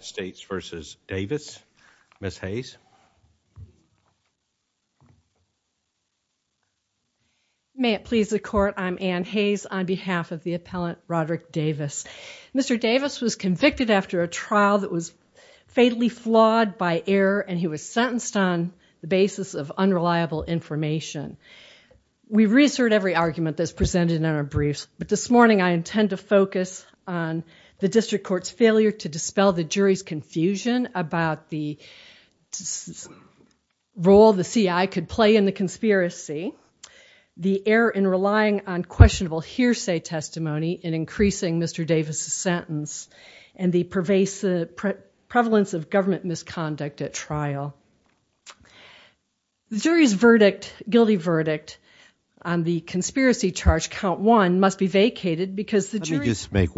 States v. Davis. Ms. Hayes. May it please the court, I'm Anne Hayes on behalf of the appellant Roderick Davis. Mr. Davis was convicted after a trial that was fatally flawed by error and he was sentenced on the basis of unreliable information. We reassert every argument that is presented in our briefs, but this morning I intend to focus on the district court's failure to dispel the jury's confusion about the role the CI could play in the conspiracy, the error in relying on questionable hearsay testimony in increasing Mr. Davis's sentence, and the prevalence of government misconduct at trial. The jury's verdict, guilty verdict, on the conspiracy charge count one must be vacated because the jury- Speaking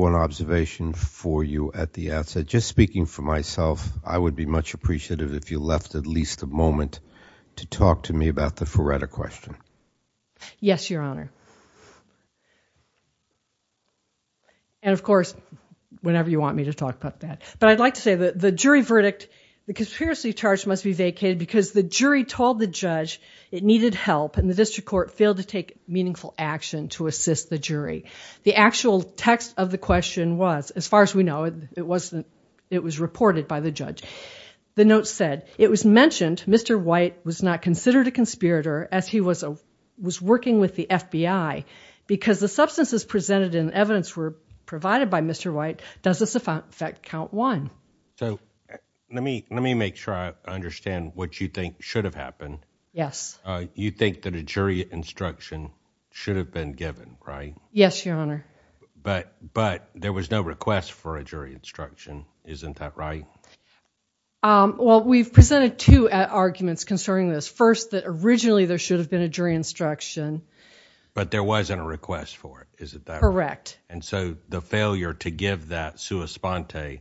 for myself, I would be much appreciative if you left at least a moment to talk to me about the Feretta question. Yes, your honor. And of course, whenever you want me to talk about that. But I'd like to say that the jury verdict, the conspiracy charge must be vacated because the jury told the judge it needed help and the district court failed to take meaningful action to assist the jury. The actual text of the question was, as far as we know, it was reported by the judge. The note said, it was mentioned Mr. White was not considered a conspirator as he was working with the FBI because the substances presented in evidence were provided by Mr. White. Does this affect count one? So let me make sure I understand what you think should have happened. You think that a jury instruction should have been given, right? Yes, your honor. But there was no request for a jury instruction, isn't that right? Well, we've presented two arguments concerning this. First, that originally there should have been a jury instruction. But there wasn't a request for it, is that correct? Correct. And so the failure to give that sua sponte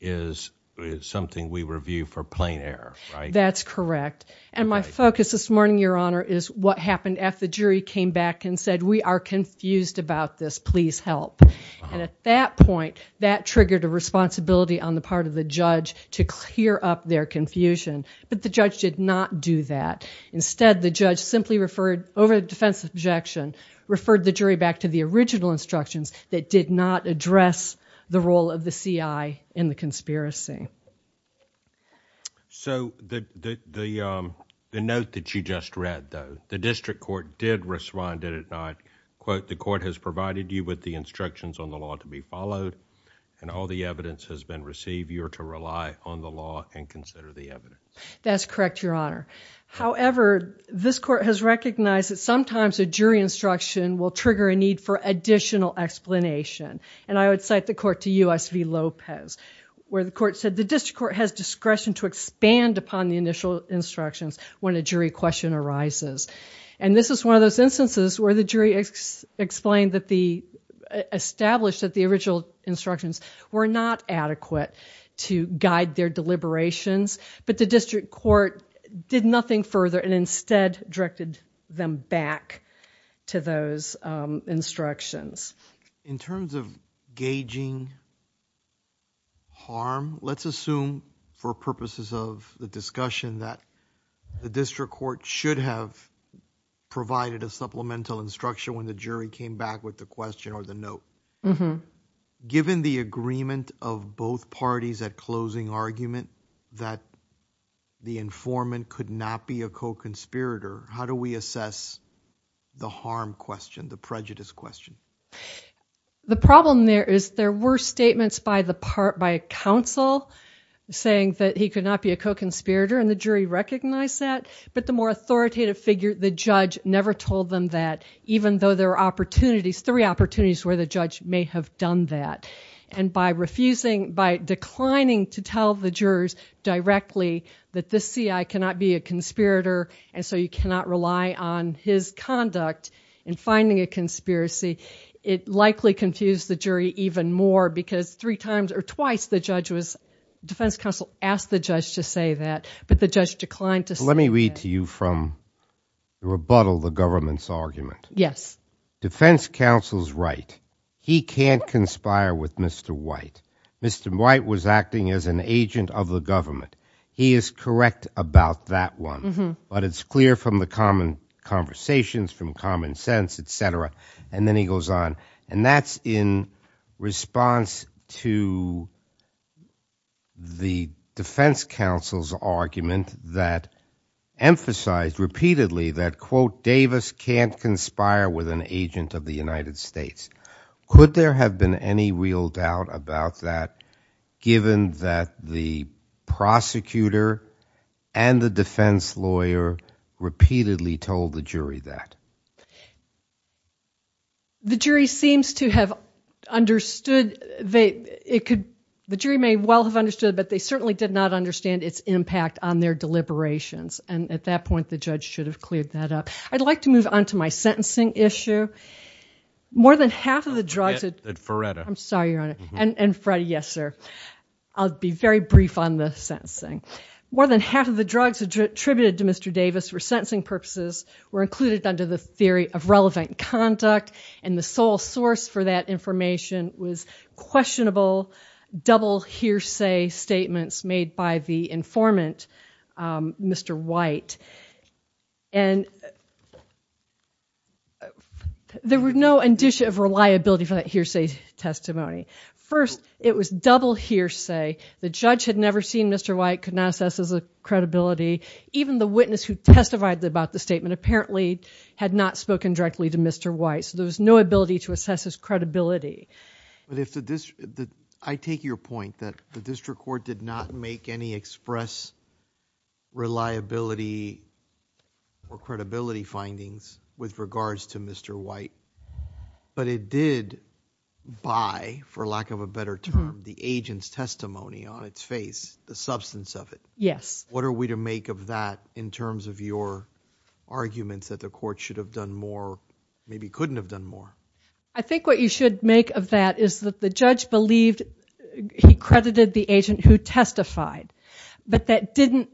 is something we review for plain error, right? That's correct. And my focus this morning, your honor, is what happened after the jury came back and said, we are confused about this, please help. And at that point, that triggered a responsibility on the part of the judge to clear up their confusion. But the judge did not do that. Instead, the judge simply referred over the defense objection, referred the jury back to the original instructions that did not address the role of the CI in the conspiracy. So the note that you just read, though, the district court did respond, did it not? Quote, the court has provided you with the instructions on the law to be followed, and all the evidence has been received. You are to rely on the law and consider the evidence. That's correct, your honor. However, this court has recognized that sometimes a jury instruction will trigger a need for additional explanation. And I would cite the court to U.S. v. Lopez, where the court said the district court has discretion to expand upon the initial instructions when a jury question arises. And this is one of those instances where the jury explained that the, established that the original instructions were not adequate to guide their deliberations, but the district court did nothing further and instead directed them back to those instructions. In terms of gauging harm, let's assume for purposes of the discussion that the district court should have provided a supplemental instruction when the jury came back with the question or the note. Given the agreement of both parties at closing argument that the informant could not be a co-conspirator, how do we assess the harm question, the prejudice question? The problem there is there were statements by the counsel saying that he could not be a co-conspirator and the jury recognized that, but the more authoritative figure, the judge, never told them that, even though there were opportunities, three opportunities where the judge may have done that. And by refusing, by declining to tell the jurors directly that this C.I. cannot be a conspirator, and so you cannot rely on his conduct in finding a conspiracy, it likely confused the jury even more because three times or twice the judge was, defense counsel asked the judge to say that, but the judge declined to say that. Let me read to you from the rebuttal, the government's argument. Yes. Defense counsel's right. He can't conspire with Mr. White. Mr. White was acting as an agent of the government. He is correct about that one, but it's clear from the common conversations, from common sense, et cetera. And then he goes on, and that's in response to the defense counsel's argument that emphasized repeatedly that, quote, Davis can't conspire with an agent of the United States. Could there have been any real doubt about that given that the prosecutor and the defense lawyer repeatedly told the jury that? The jury seems to have understood, it could, the jury may well have understood, but they certainly did not understand its impact on their deliberations. And at that point, the judge should have cleared that up. I'd like to move on to my sentencing issue. More than half of the drugs at, I'm sorry, Your Honor, and Fred, yes, sir. I'll be very brief on the sentencing. More than half of the drugs attributed to Mr. Davis for sentencing purposes were included under the theory of relevant conduct, and the sole source for that information was questionable double hearsay statements made by the informant, Mr. White. And there were no indicia of reliability for that hearsay testimony. First, it was double hearsay. The defendant, Mr. White, could not assess his credibility. Even the witness who testified about the statement apparently had not spoken directly to Mr. White, so there was no ability to assess his credibility. I take your point that the district court did not make any express reliability or credibility findings with regards to Mr. White, but it did buy, for lack of a better term, the agent's testimony on its face, the substance of it. What are we to make of that in terms of your arguments that the court should have done more, maybe couldn't have done more? I think what you should make of that is that the judge believed he credited the agent who testified, but that didn't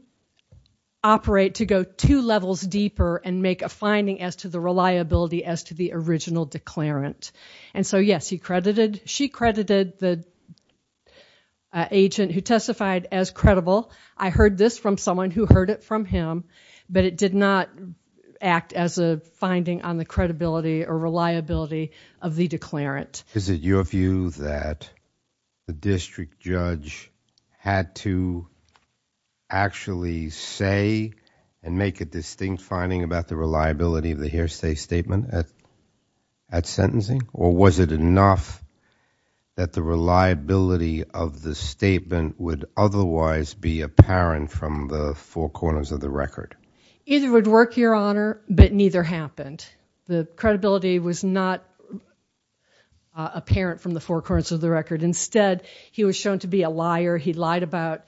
operate to go two levels deeper and make a finding as to the reliability as to the original declarant. And so, yes, he credited, she credited the agent who testified as credible. I heard this from someone who heard it from him, but it did not act as a finding on the credibility or reliability of the declarant. Is it your view that the district judge had to actually say and make a distinct finding about the reliability of the hearsay statement at sentencing? Or was it enough that the reliability of the statement would otherwise be apparent from the four corners of the record? Either would work, your honor, but neither happened. The credibility was not apparent from the four corners of the record. Instead, he was shown to be a liar. He lied about,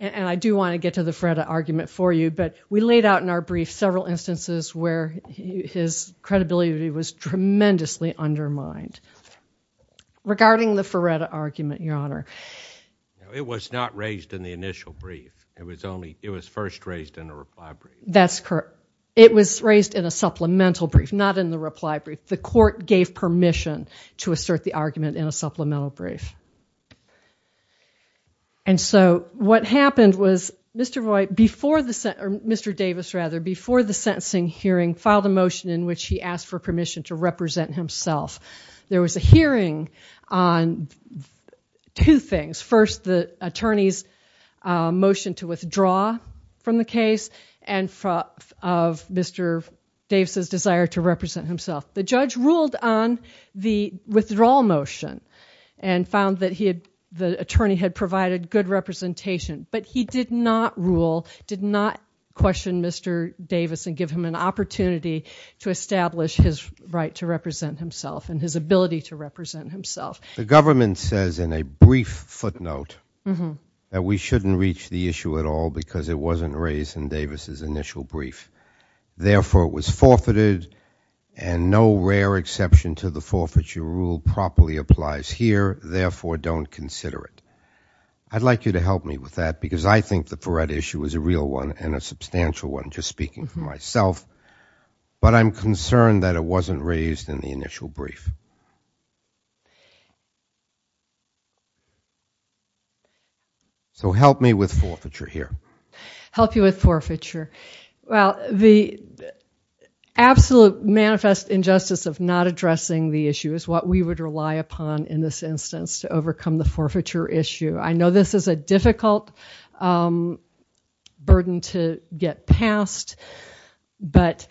and I do want to get to the Feretta argument for you, but we laid out in our brief several instances where his credibility was tremendously undermined. Regarding the Feretta argument, your honor. It was not raised in the initial brief. It was first raised in the reply brief. That's correct. It was raised in a supplemental brief, not in the reply brief. The court gave permission to assert the argument in a supplemental brief. And so, what happened was Mr. Davis rather, before the sentencing hearing, filed a motion in which he asked for permission to represent himself. There was a hearing on two things. First, the attorney's motion to withdraw from the case and of Mr. Davis's desire to represent himself. The judge ruled on the withdrawal motion and found that the attorney had provided good representation, but he did not rule, did not question Mr. Davis and give him an opportunity to establish his right to represent himself and his ability to represent himself. The government says in a brief footnote that we shouldn't reach the issue at all because it wasn't raised in Davis's initial brief. Therefore, it was forfeited and no rare exception to the forfeiture rule properly applies here. Therefore, don't consider it. I'd like you to help me with that because I think the Fourette issue is a real one and a substantial one just speaking for myself, but I'm concerned that it wasn't raised in the initial brief. So help me with forfeiture here. Help you with forfeiture. Well, the absolute manifest injustice of not addressing the issue is what we would rely upon in this instance to overcome the forfeiture issue. I know this is a difficult burden to get past, but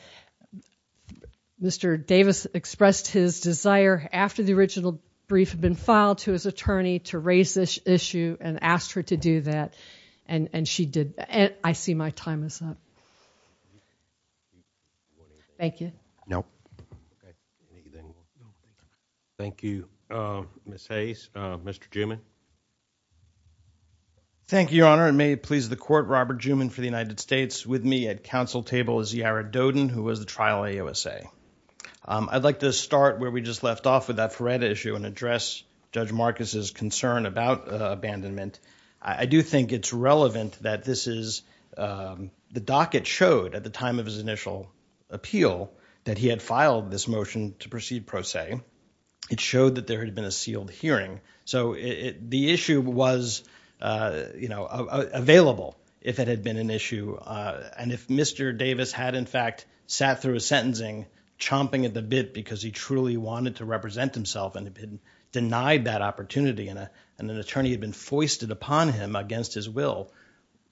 Mr. Davis expressed his desire after the original brief had been filed to his attorney to raise this issue and asked her to do that, and she did. I see my time is up. Thank you. Thank you, Ms. Hayes. Mr. Juman. Thank you, Your Honor, and may it please the Court, Robert Juman for the United States. With me at council table is Yara Dodin, who was the trial AOSA. I'd like to start where we just left off with that Fourette issue and address Judge Marcus's concern about abandonment. I do think it's relevant that this is the docket showed at the time of his initial appeal that he had filed this motion to proceed pro se. It showed that there had been a sealed hearing, so the issue was, you know, available if it had been an issue and if Mr. Davis had in fact sat through his sentencing chomping at the bit because he truly wanted to represent himself and had denied that opportunity and an attorney had been foisted upon him against his will,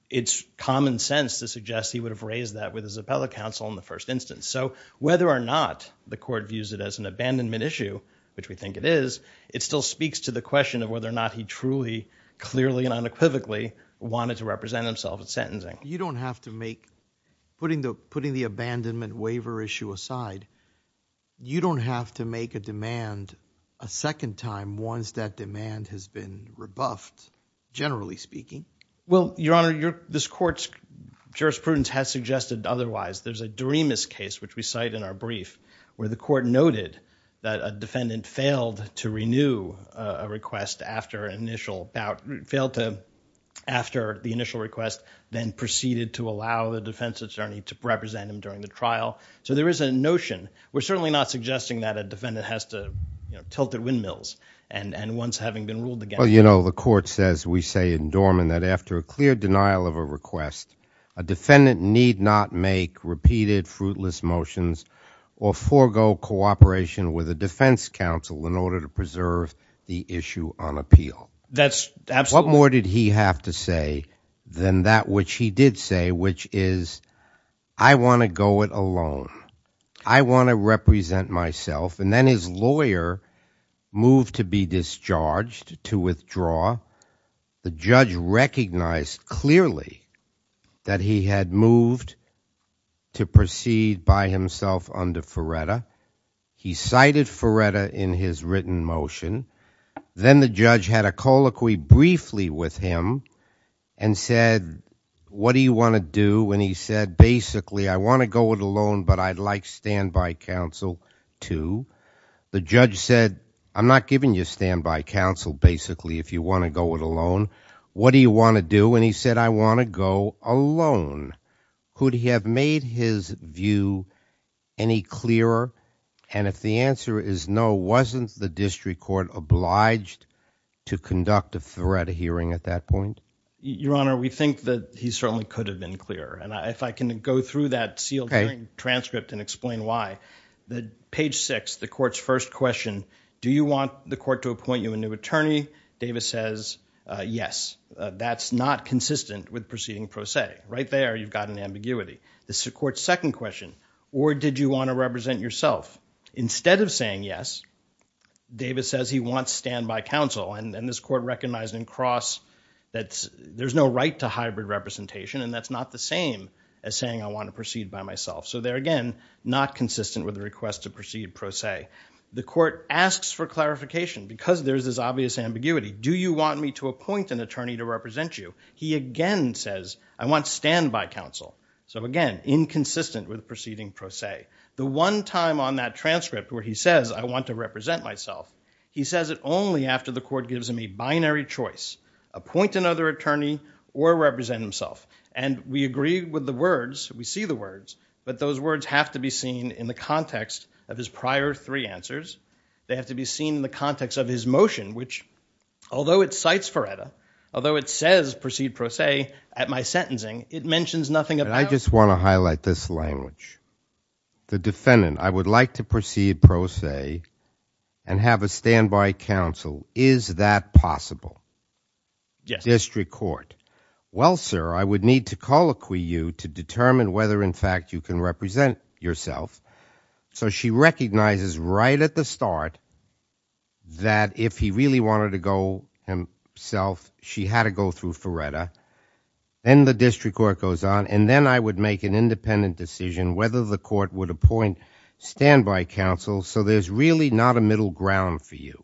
it's common sense to suggest he would have raised that with his appellate counsel in the first instance. So whether or not the Court views it as an abandonment issue, which we think it is, it still speaks to the question of whether or not he truly, clearly and unequivocally wanted to represent himself at sentencing. You don't have to make, putting the abandonment waiver issue aside, you don't have to make a demand a second time once that demand has been rebuffed, generally speaking. Well, Your Honor, this Court's jurisprudence has suggested otherwise. There's a Doremus case, which we cite in our brief, where the Court noted that a defendant failed to renew a request after the initial request, then proceeded to allow the defense attorney to represent him during the trial. So there is a notion. We're certainly not suggesting that a defendant has to, you know, tilt their windmills and once having been ruled against Well, you know, the Court says, we say in Dorman, that after a clear denial of a request, a defendant need not make repeated fruitless motions or forego cooperation with a defense counsel in order to preserve the issue on appeal. That's absolutely What more did he have to say than that which he did say, which is, I want to go it alone. I want to represent myself. And then his lawyer moved to be discharged, to withdraw. The judge recognized clearly that he had moved to proceed by himself under Ferretta. He cited Ferretta in his written motion. Then the judge had a colloquy briefly with him and said, what do you want to do? And he said, basically, I want to go it alone, but I'd like standby counsel, too. The judge said, I'm not giving you standby counsel, basically, if you want to go it alone. What do you want to do? And he said, I want to go alone. Could he have made his view any clearer? And if the answer is no, wasn't the district court obliged to conduct a Ferretta hearing at that point? Your Honor, we think that he certainly could have been clearer. And if I can go through that sealed transcript and explain why. Page six, the court's first question, do you want the court to appoint you a new attorney? Davis says, yes. That's not consistent with proceeding pro se. Right there, you've got an ambiguity. The court's second question, or did you want to represent yourself? Instead of saying yes, Davis says he wants standby counsel. And this court recognized in cross that there's no right to hybrid representation. And that's not the same as saying, I want to proceed by myself. So there again, not consistent with the request to proceed pro se. The court asks for clarification because there's this obvious ambiguity. Do you want me to appoint an attorney to represent you? He again says, I want standby counsel. So again, inconsistent with proceeding pro se. The one time on that transcript where he says, I want to represent myself, he says it only after the court gives him a binary choice, appoint another attorney or represent himself. And we agree with the words, we see the words, but those words have to be seen in the context of his prior three answers. They have to be seen in the context of his motion, which although it cites Ferretta, although it says proceed pro se at my sentencing, it mentions nothing about- The defendant, I would like to proceed pro se and have a standby counsel. Is that possible? Yes. District court. Well, sir, I would need to colloquy you to determine whether in fact you can represent yourself. So she recognizes right at the start that if he really wanted to go himself, she had to go through Ferretta and the district court goes on. And then I would make an independent decision whether the court would appoint standby counsel. So there's really not a middle ground for you.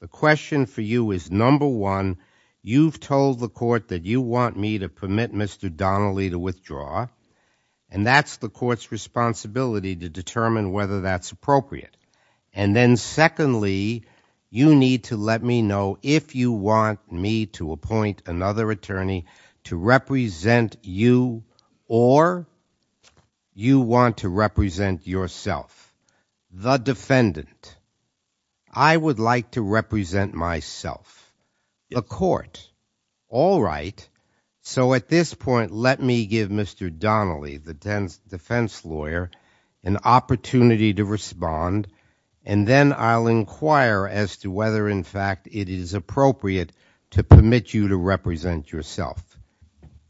The question for you is number one, you've told the court that you want me to permit Mr. Donnelly to withdraw and that's the court's responsibility to determine whether that's appropriate. And then secondly, you need to let me know if you want me to appoint another attorney to represent you or you want to represent yourself, the defendant. I would like to represent myself, the court. All right. So at this point, let me give Mr. Donnelly, the defense lawyer, an opportunity to respond and then I'll inquire as to whether in fact it is appropriate to permit you to represent yourself.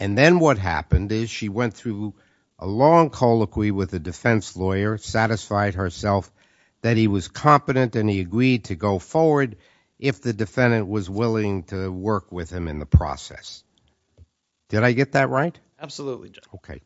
And then what happened is she went through a long colloquy with the defense lawyer, satisfied herself that he was competent and he agreed to go forward if the defendant was willing to work with him in the process. Did I get that right? Absolutely. Okay.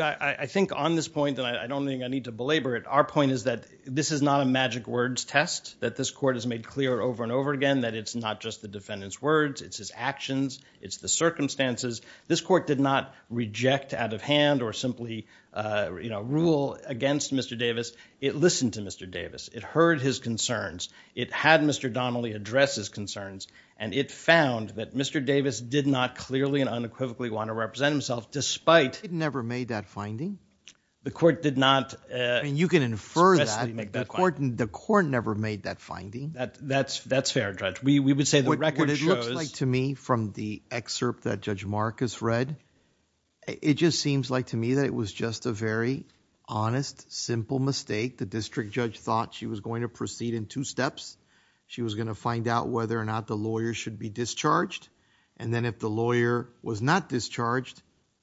I think on this point, and I don't think I need to belabor it, our point is that this is not a magic words test that this court has made clear over and over again that it's not just the defendant's words, it's his actions, it's the circumstances. This court did not reject out of hand or simply rule against Mr. Davis. It listened to Mr. Davis. It heard his concerns. It had Mr. Donnelly address his concerns and it found that Mr. Davis did not clearly and unequivocally want to represent himself despite it never made that finding. The court did not I mean, you can infer that the court never made that finding. That's fair, Judge. We would say the record shows To me from the excerpt that Judge Marcus read, it just seems like to me that it was just a very honest, simple mistake. The district judge thought she was going to proceed in two steps. She was going to find out whether or not the lawyer should be discharged. And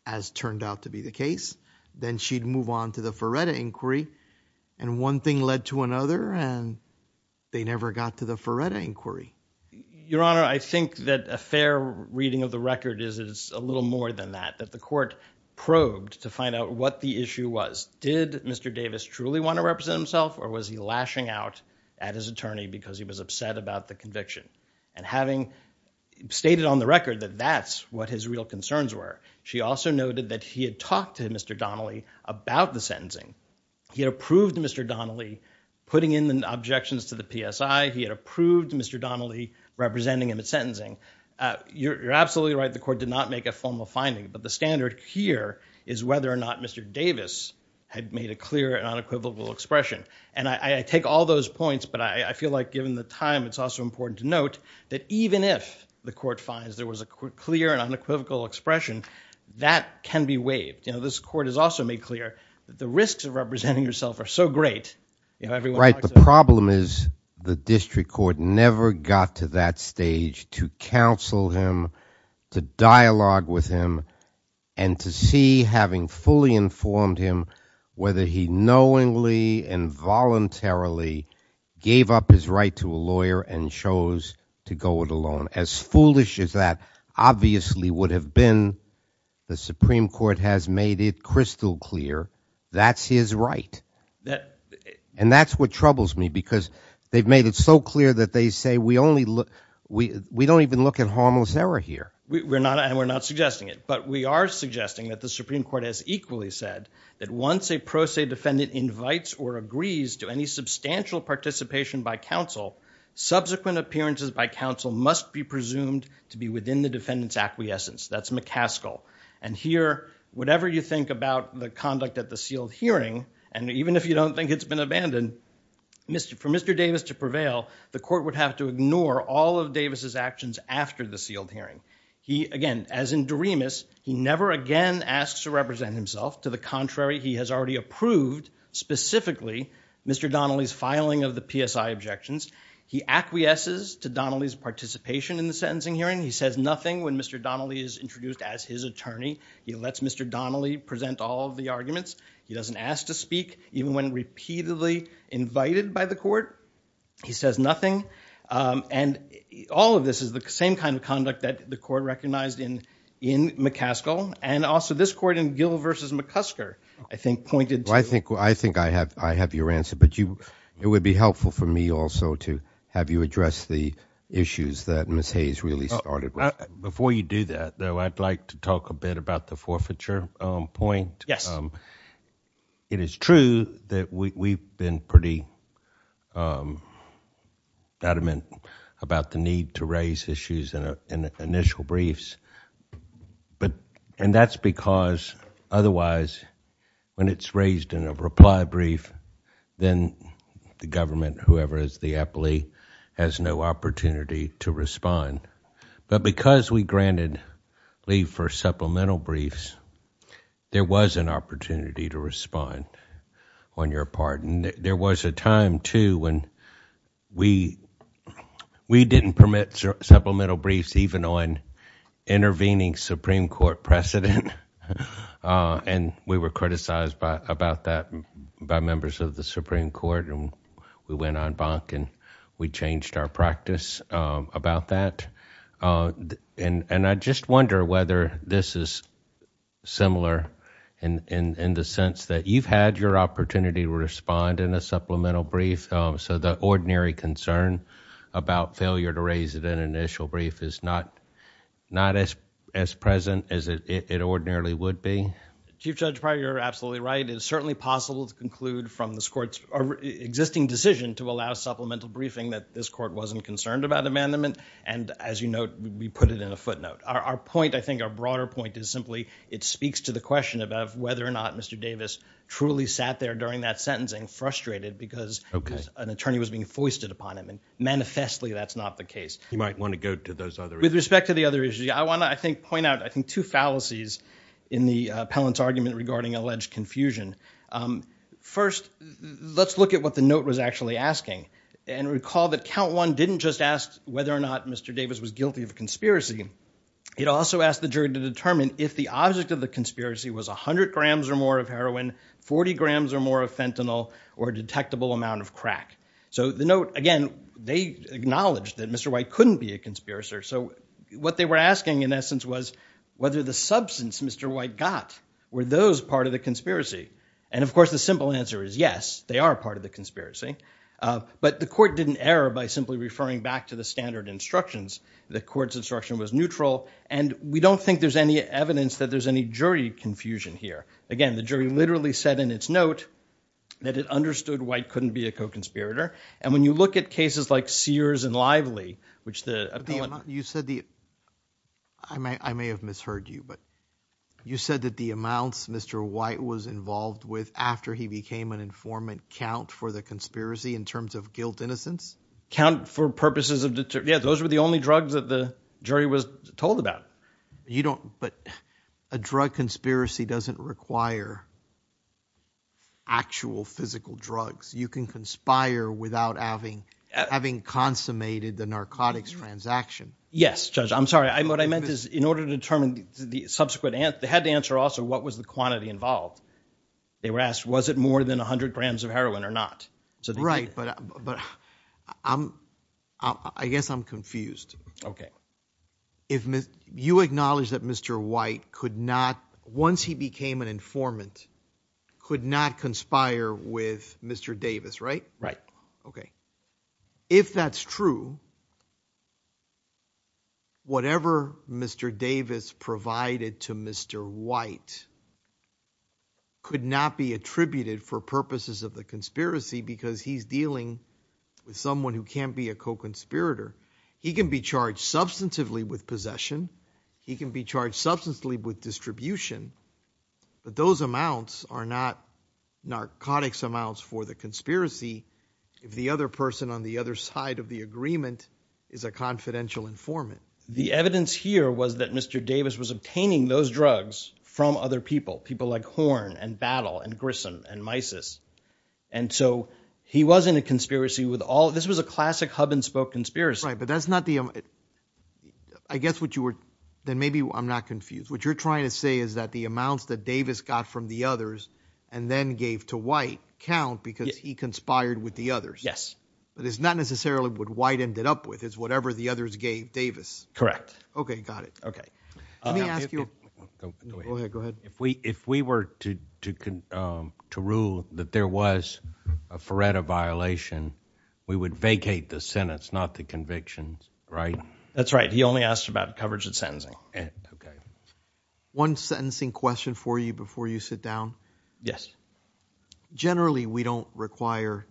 that's turned out to be the case. Then she'd move on to the Ferretta inquiry. And one thing led to another and they never got to the Ferretta inquiry. Your Honor, I think that a fair reading of the record is it's a little more than that, that the court probed to find out what the issue was. Did Mr. Davis truly want to represent himself or was he lashing out at his attorney because he was upset about the conviction and having stated on the record that that's what his real concerns were. She also noted that he had talked to Mr. Donnelly about the sentencing. He had approved Mr. Donnelly putting in the objections to the PSI. He had approved Mr. Donnelly representing him at sentencing. You're absolutely right. The court did not make a formal finding. But the standard here is whether or not Mr. Davis had made a clear and unequivocal expression. And I take all those points, but I feel like given the time, it's also important to note that even if the court finds there was a clear and unequivocal expression, that can be waived. You know, this court has also made clear that the risks of representing yourself are so great. Right. The problem is the district court never got to that stage to counsel him, to dialogue with him, and to see having fully informed him whether he knowingly and voluntarily gave up his right to a lawyer and chose to go it alone. As foolish as that obviously would have been, the Supreme Court has made it crystal clear that's his right. And that's what troubles me because they've made it so clear that they say we only look we we don't even look at We're not and we're not suggesting it. But we are suggesting that the Supreme Court has equally said that once a pro se defendant invites or agrees to any substantial participation by counsel, subsequent appearances by counsel must be presumed to be within the defendant's acquiescence. That's McCaskill. And here, whatever you think about the conduct at the sealed hearing, and even if you don't think it's been abandoned, for Mr. Davis to prevail, the court would have to ignore all of Davis's actions after the sealed hearing. He, again, as in Doremus, he never again asks to represent himself. To the contrary, he has already approved, specifically, Mr. Donnelly's filing of the PSI objections. He acquiesces to Donnelly's participation in the sentencing hearing. He says nothing when Mr. Donnelly is introduced as his attorney. He lets Mr. Donnelly present all of the arguments. He doesn't ask to speak even when repeatedly invited by the court. He says nothing. And all of this is the same kind of conduct that the court recognized in McCaskill. And also, this court in Gill v. McCusker, I think, pointed to- I think I have your answer. But it would be helpful for me also to have you address the issues that Ms. Hayes really started with. Before you do that, though, I'd like to talk a bit about the forfeiture point. Yes. It is true that we've been pretty adamant about the need to raise issues in initial briefs. And that's because, otherwise, when it's raised in a reply brief, then the government, whoever is the appellee, has no opportunity to respond. But because we granted leave for supplemental briefs, there was an opportunity to respond, on your part. And there was a time, too, when we didn't permit supplemental briefs even on intervening Supreme Court precedent. And we were criticized about that by members of the Supreme Court. And we went on bonk and we changed our practice about that. And I just wonder whether this is similar in the sense that you've had your opportunity to respond in a supplemental brief, so the ordinary concern about failure to raise it in an initial brief is not as present as it ordinarily would be? Chief Judge Pryor, you're absolutely right. It is certainly possible to conclude from this Court's existing decision to allow supplemental briefing that this Court wasn't concerned about abandonment. And as you note, we put it in a footnote. Our point, I think, our broader point is simply it speaks to the question about whether or not Mr. Davis truly sat there during that sentencing frustrated because an attorney was being foisted upon him. And manifestly, that's not the case. You might want to go to those other issues. With respect to the other issues, I want to, I think, point out, I think, two fallacies in the appellant's argument regarding alleged confusion. First, let's look at what the note was actually asking. And recall that count one didn't just ask whether or not Mr. Davis was guilty of conspiracy. It also asked the jury to determine if the object of the conspiracy was 100 grams or more of heroin, 40 grams or more of fentanyl, or a detectable amount of crack. So the note, again, they acknowledged that Mr. White couldn't be a conspiracist. So what they were asking, in essence, was whether the substance Mr. White got, were those part of the conspiracy? And, of course, the simple answer is yes, they are part of the conspiracy. But the court didn't err by simply referring back to the standard instructions. The court's instruction was neutral. And we don't think there's any evidence that there's any jury confusion here. Again, the jury literally said in its note that it understood White couldn't be a co-conspirator. And when you look at cases like Sears and Lively, which the appellant- You said the- I may have misheard you, but you said that the amounts Mr. White was involved with after he became an informant count for the conspiracy in terms of guilt innocence? Count for purposes of- yeah, those were the only drugs that the jury was told about. You don't- but a drug conspiracy doesn't require actual physical drugs. You can conspire without having consummated the narcotics transaction. Yes, Judge. I'm sorry. What I meant is, in order to determine the subsequent- they had to answer also, what was the quantity involved? They were asked, was it more than 100 grams of heroin or not? Right. But I guess I'm confused. Okay. If you acknowledge that Mr. White could not, once he became an informant, could not conspire with Mr. Davis, right? Right. Okay. If that's true, whatever Mr. Davis provided to Mr. White could not be attributed for purposes of the conspiracy because he's dealing with someone who can't be a co-conspirator. He can be charged substantively with possession. He can be charged substantively with distribution. But those amounts are not narcotics amounts for the conspiracy if the other person on the other side of the agreement is a confidential informant. The evidence here was that Mr. Davis was obtaining those drugs from other people, people like Horn and Battle and Grissom and Mysis. And so he wasn't a conspiracy with all- this was a classic hub and spoke conspiracy. Right. But that's not the- I guess what you were- then maybe I'm not confused. What you're trying to say is that the amounts that Davis got from the others and then gave to White count because he conspired with the others. But it's not necessarily what White ended up with. It's whatever the others gave Davis. Okay. Got it. Okay. Let me ask you- Go ahead. Go ahead. Go ahead. If we were to rule that there was a Feretta violation, we would vacate the sentence, not the convictions, right? That's right. He only asked about coverage of sentencing. One sentencing question for you before you sit down. Generally, we don't require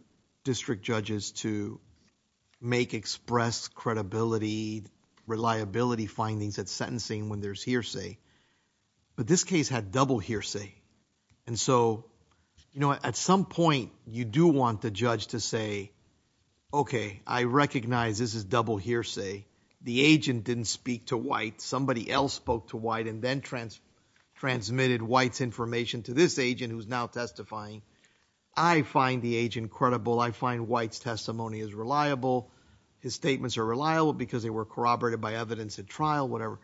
district judges to make express credibility, reliability findings at sentencing when there's hearsay. But this case had double hearsay. And so, you know, at some point, you do want the judge to say, okay, I recognize this is double hearsay. The agent didn't speak to White. Somebody else spoke to White and then transmitted White's information to this agent who's now testifying. I find the agent credible. I find White's testimony is reliable. His statements are reliable because they were corroborated by evidence at trial, whatever.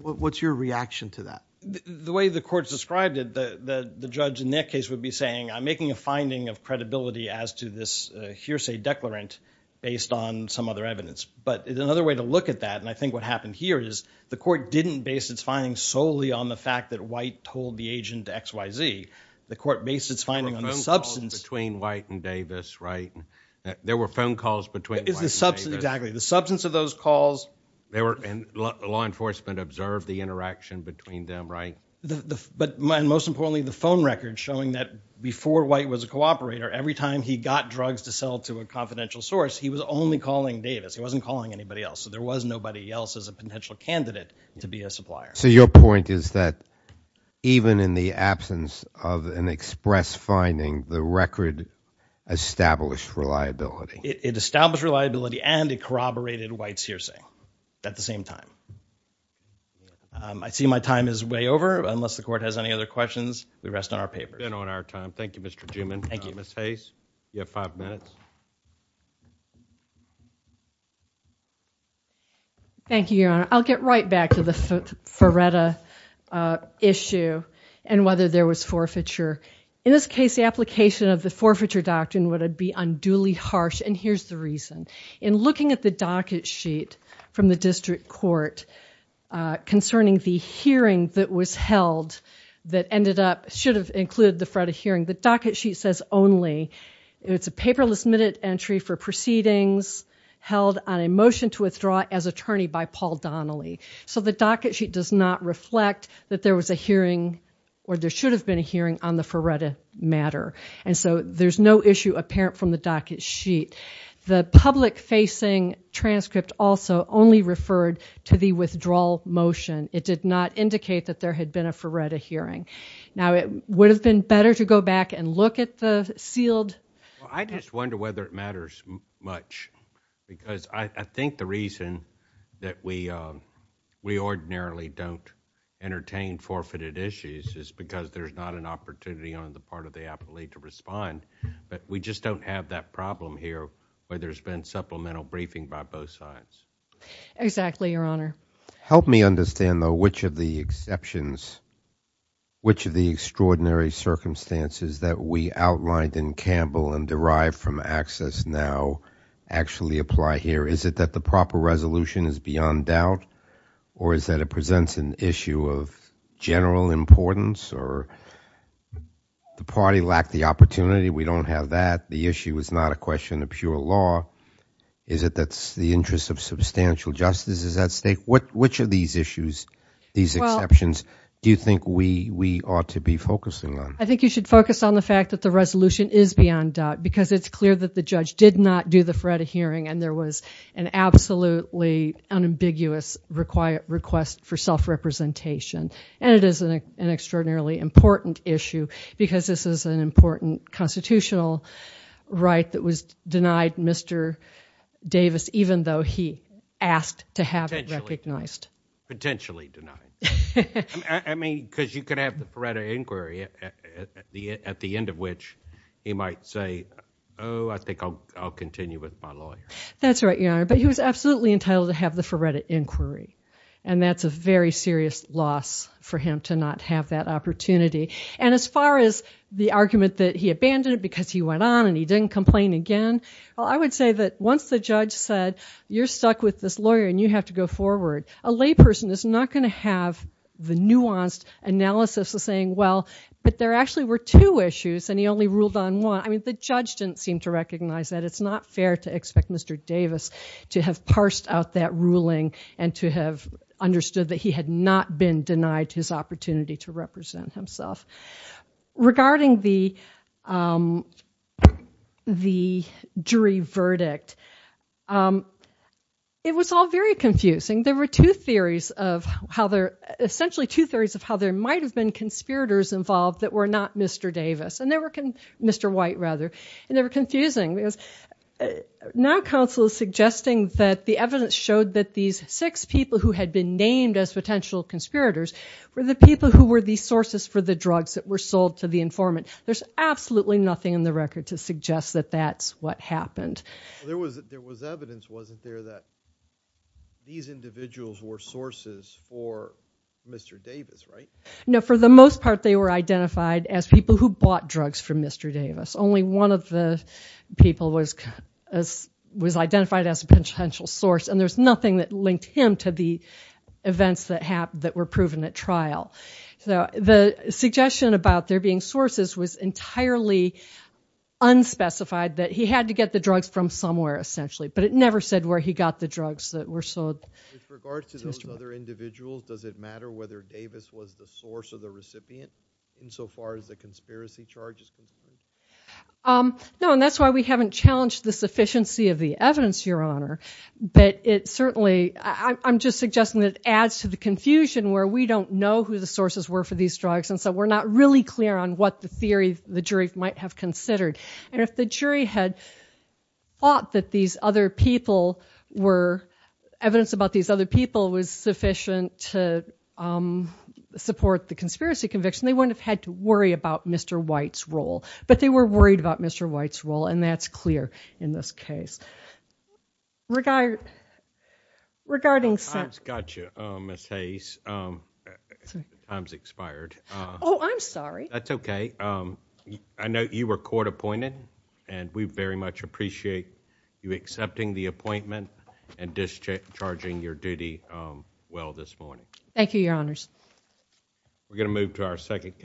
What's your reaction to that? The way the court's described it, the judge in that case would be saying, I'm making a finding of credibility as to this hearsay declarant based on some other evidence. But another way to look at that, and I think what happened here, is the court didn't base its findings solely on the fact that White told the agent X, Y, Z. The court based its finding on the substance. There were phone calls between White and Davis, right? There were phone calls between White and Davis. Exactly. The substance of those calls. Law enforcement observed the interaction between them, right? Most importantly, the phone records showing that before White was a cooperator, every time he got drugs to sell to a confidential source, he was only calling Davis. He wasn't calling anybody else. So there was nobody else as a potential candidate to be a supplier. So your point is that even in the absence of an express finding, the record established reliability. It established reliability and it corroborated White's hearsay at the same time. I see my time is way over. Unless the court has any other questions, we rest on our papers. We've been on our time. Thank you, Mr. Juman. Ms. Hayes, you have five minutes. Thank you, Your Honor. I'll get right back to the Feretta issue and whether there was forfeiture. In this case, the application of the forfeiture doctrine would be unduly harsh, and here's the reason. In looking at the docket sheet from the district court concerning the hearing that was held that should have included the Feretta hearing, the docket sheet says only it's a paperless minute entry for proceedings held on a motion to withdraw as attorney by Paul Donnelly. So the docket sheet does not reflect that there was a hearing or there should have been a hearing on the Feretta matter. And so there's no issue apparent from the docket sheet. The public-facing transcript also only referred to the withdrawal motion. It did not indicate that there had been a Feretta hearing. Now, it would have been better to go back and look at the sealed- Well, I just wonder whether it matters much because I think the reason that we ordinarily don't entertain forfeited issues is because there's not an opportunity on the part of the appellee to respond. But we just don't have that problem here where there's been supplemental briefing by both sides. Exactly, Your Honor. Help me understand, though, which of the exceptions, which of the extraordinary circumstances that we outlined in Campbell and derived from access now actually apply here. Is it that the proper resolution is beyond doubt or is that it presents an issue of general importance or the party lacked the opportunity? We don't have that. The issue is not a question of pure law. Is it that the interest of substantial justice is at stake? Which of these issues, these exceptions do you think we ought to be focusing on? I think you should focus on the fact that the resolution is beyond doubt because it's clear that the judge did not do the Feretta hearing and there was an absolutely unambiguous request for self-representation. And it is an extraordinarily important issue because this is an important constitutional right that was denied Mr. Davis even though he asked to have it recognized. Potentially denied. I mean, because you could have the Feretta inquiry at the end of which he might say, oh, I think I'll continue with my lawyer. That's right, Your Honor. But he was absolutely entitled to have the Feretta inquiry. And that's a very serious loss for him to not have that opportunity. And as far as the argument that he abandoned it because he went on and he didn't complain again, well, I would say that once the judge said, you're stuck with this lawyer and you have to go forward, a layperson is not going to have the nuanced analysis of saying, well, but there actually were two issues and he only ruled on one. I mean, the judge didn't seem to recognize that. It's not fair to expect Mr. Davis to have parsed out that ruling and to have understood that he had not been denied his opportunity to represent himself. Regarding the jury verdict, it was all very confusing. There were two theories of how there – essentially two theories of how there might have been conspirators involved that were not Mr. Davis. And they were – Mr. White, rather. And they were confusing. Now counsel is suggesting that the evidence showed that these six people who had been named as potential conspirators were the people who were the sources for the drugs that were sold to the informant. There's absolutely nothing in the record to suggest that that's what happened. There was evidence, wasn't there, that these individuals were sources for Mr. Davis, right? No, for the most part they were identified as people who bought drugs from Mr. Davis. Only one of the people was identified as a potential source. And there's nothing that linked him to the events that were proven at trial. So the suggestion about there being sources was entirely unspecified, that he had to get the drugs from somewhere, essentially. But it never said where he got the drugs that were sold to Mr. White. With regard to those other individuals, does it matter whether Davis was the source or the recipient insofar as the conspiracy charges? No, and that's why we haven't challenged the sufficiency of the evidence, Your Honor. But it certainly, I'm just suggesting that it adds to the confusion where we don't know who the sources were for these drugs and so we're not really clear on what the theory the jury might have considered. And if the jury had thought that these other people were, evidence about these other people was sufficient to support the conspiracy conviction, they wouldn't have had to worry about Mr. White's role. But they were worried about Mr. White's role, and that's clear in this case. Regarding sentence... I've got you, Ms. Hayes. Time's expired. Oh, I'm sorry. That's okay. I know you were court appointed and we very much appreciate you accepting the appointment and discharging your duty well this morning. Thank you, Your Honors. We're going to move to our second case.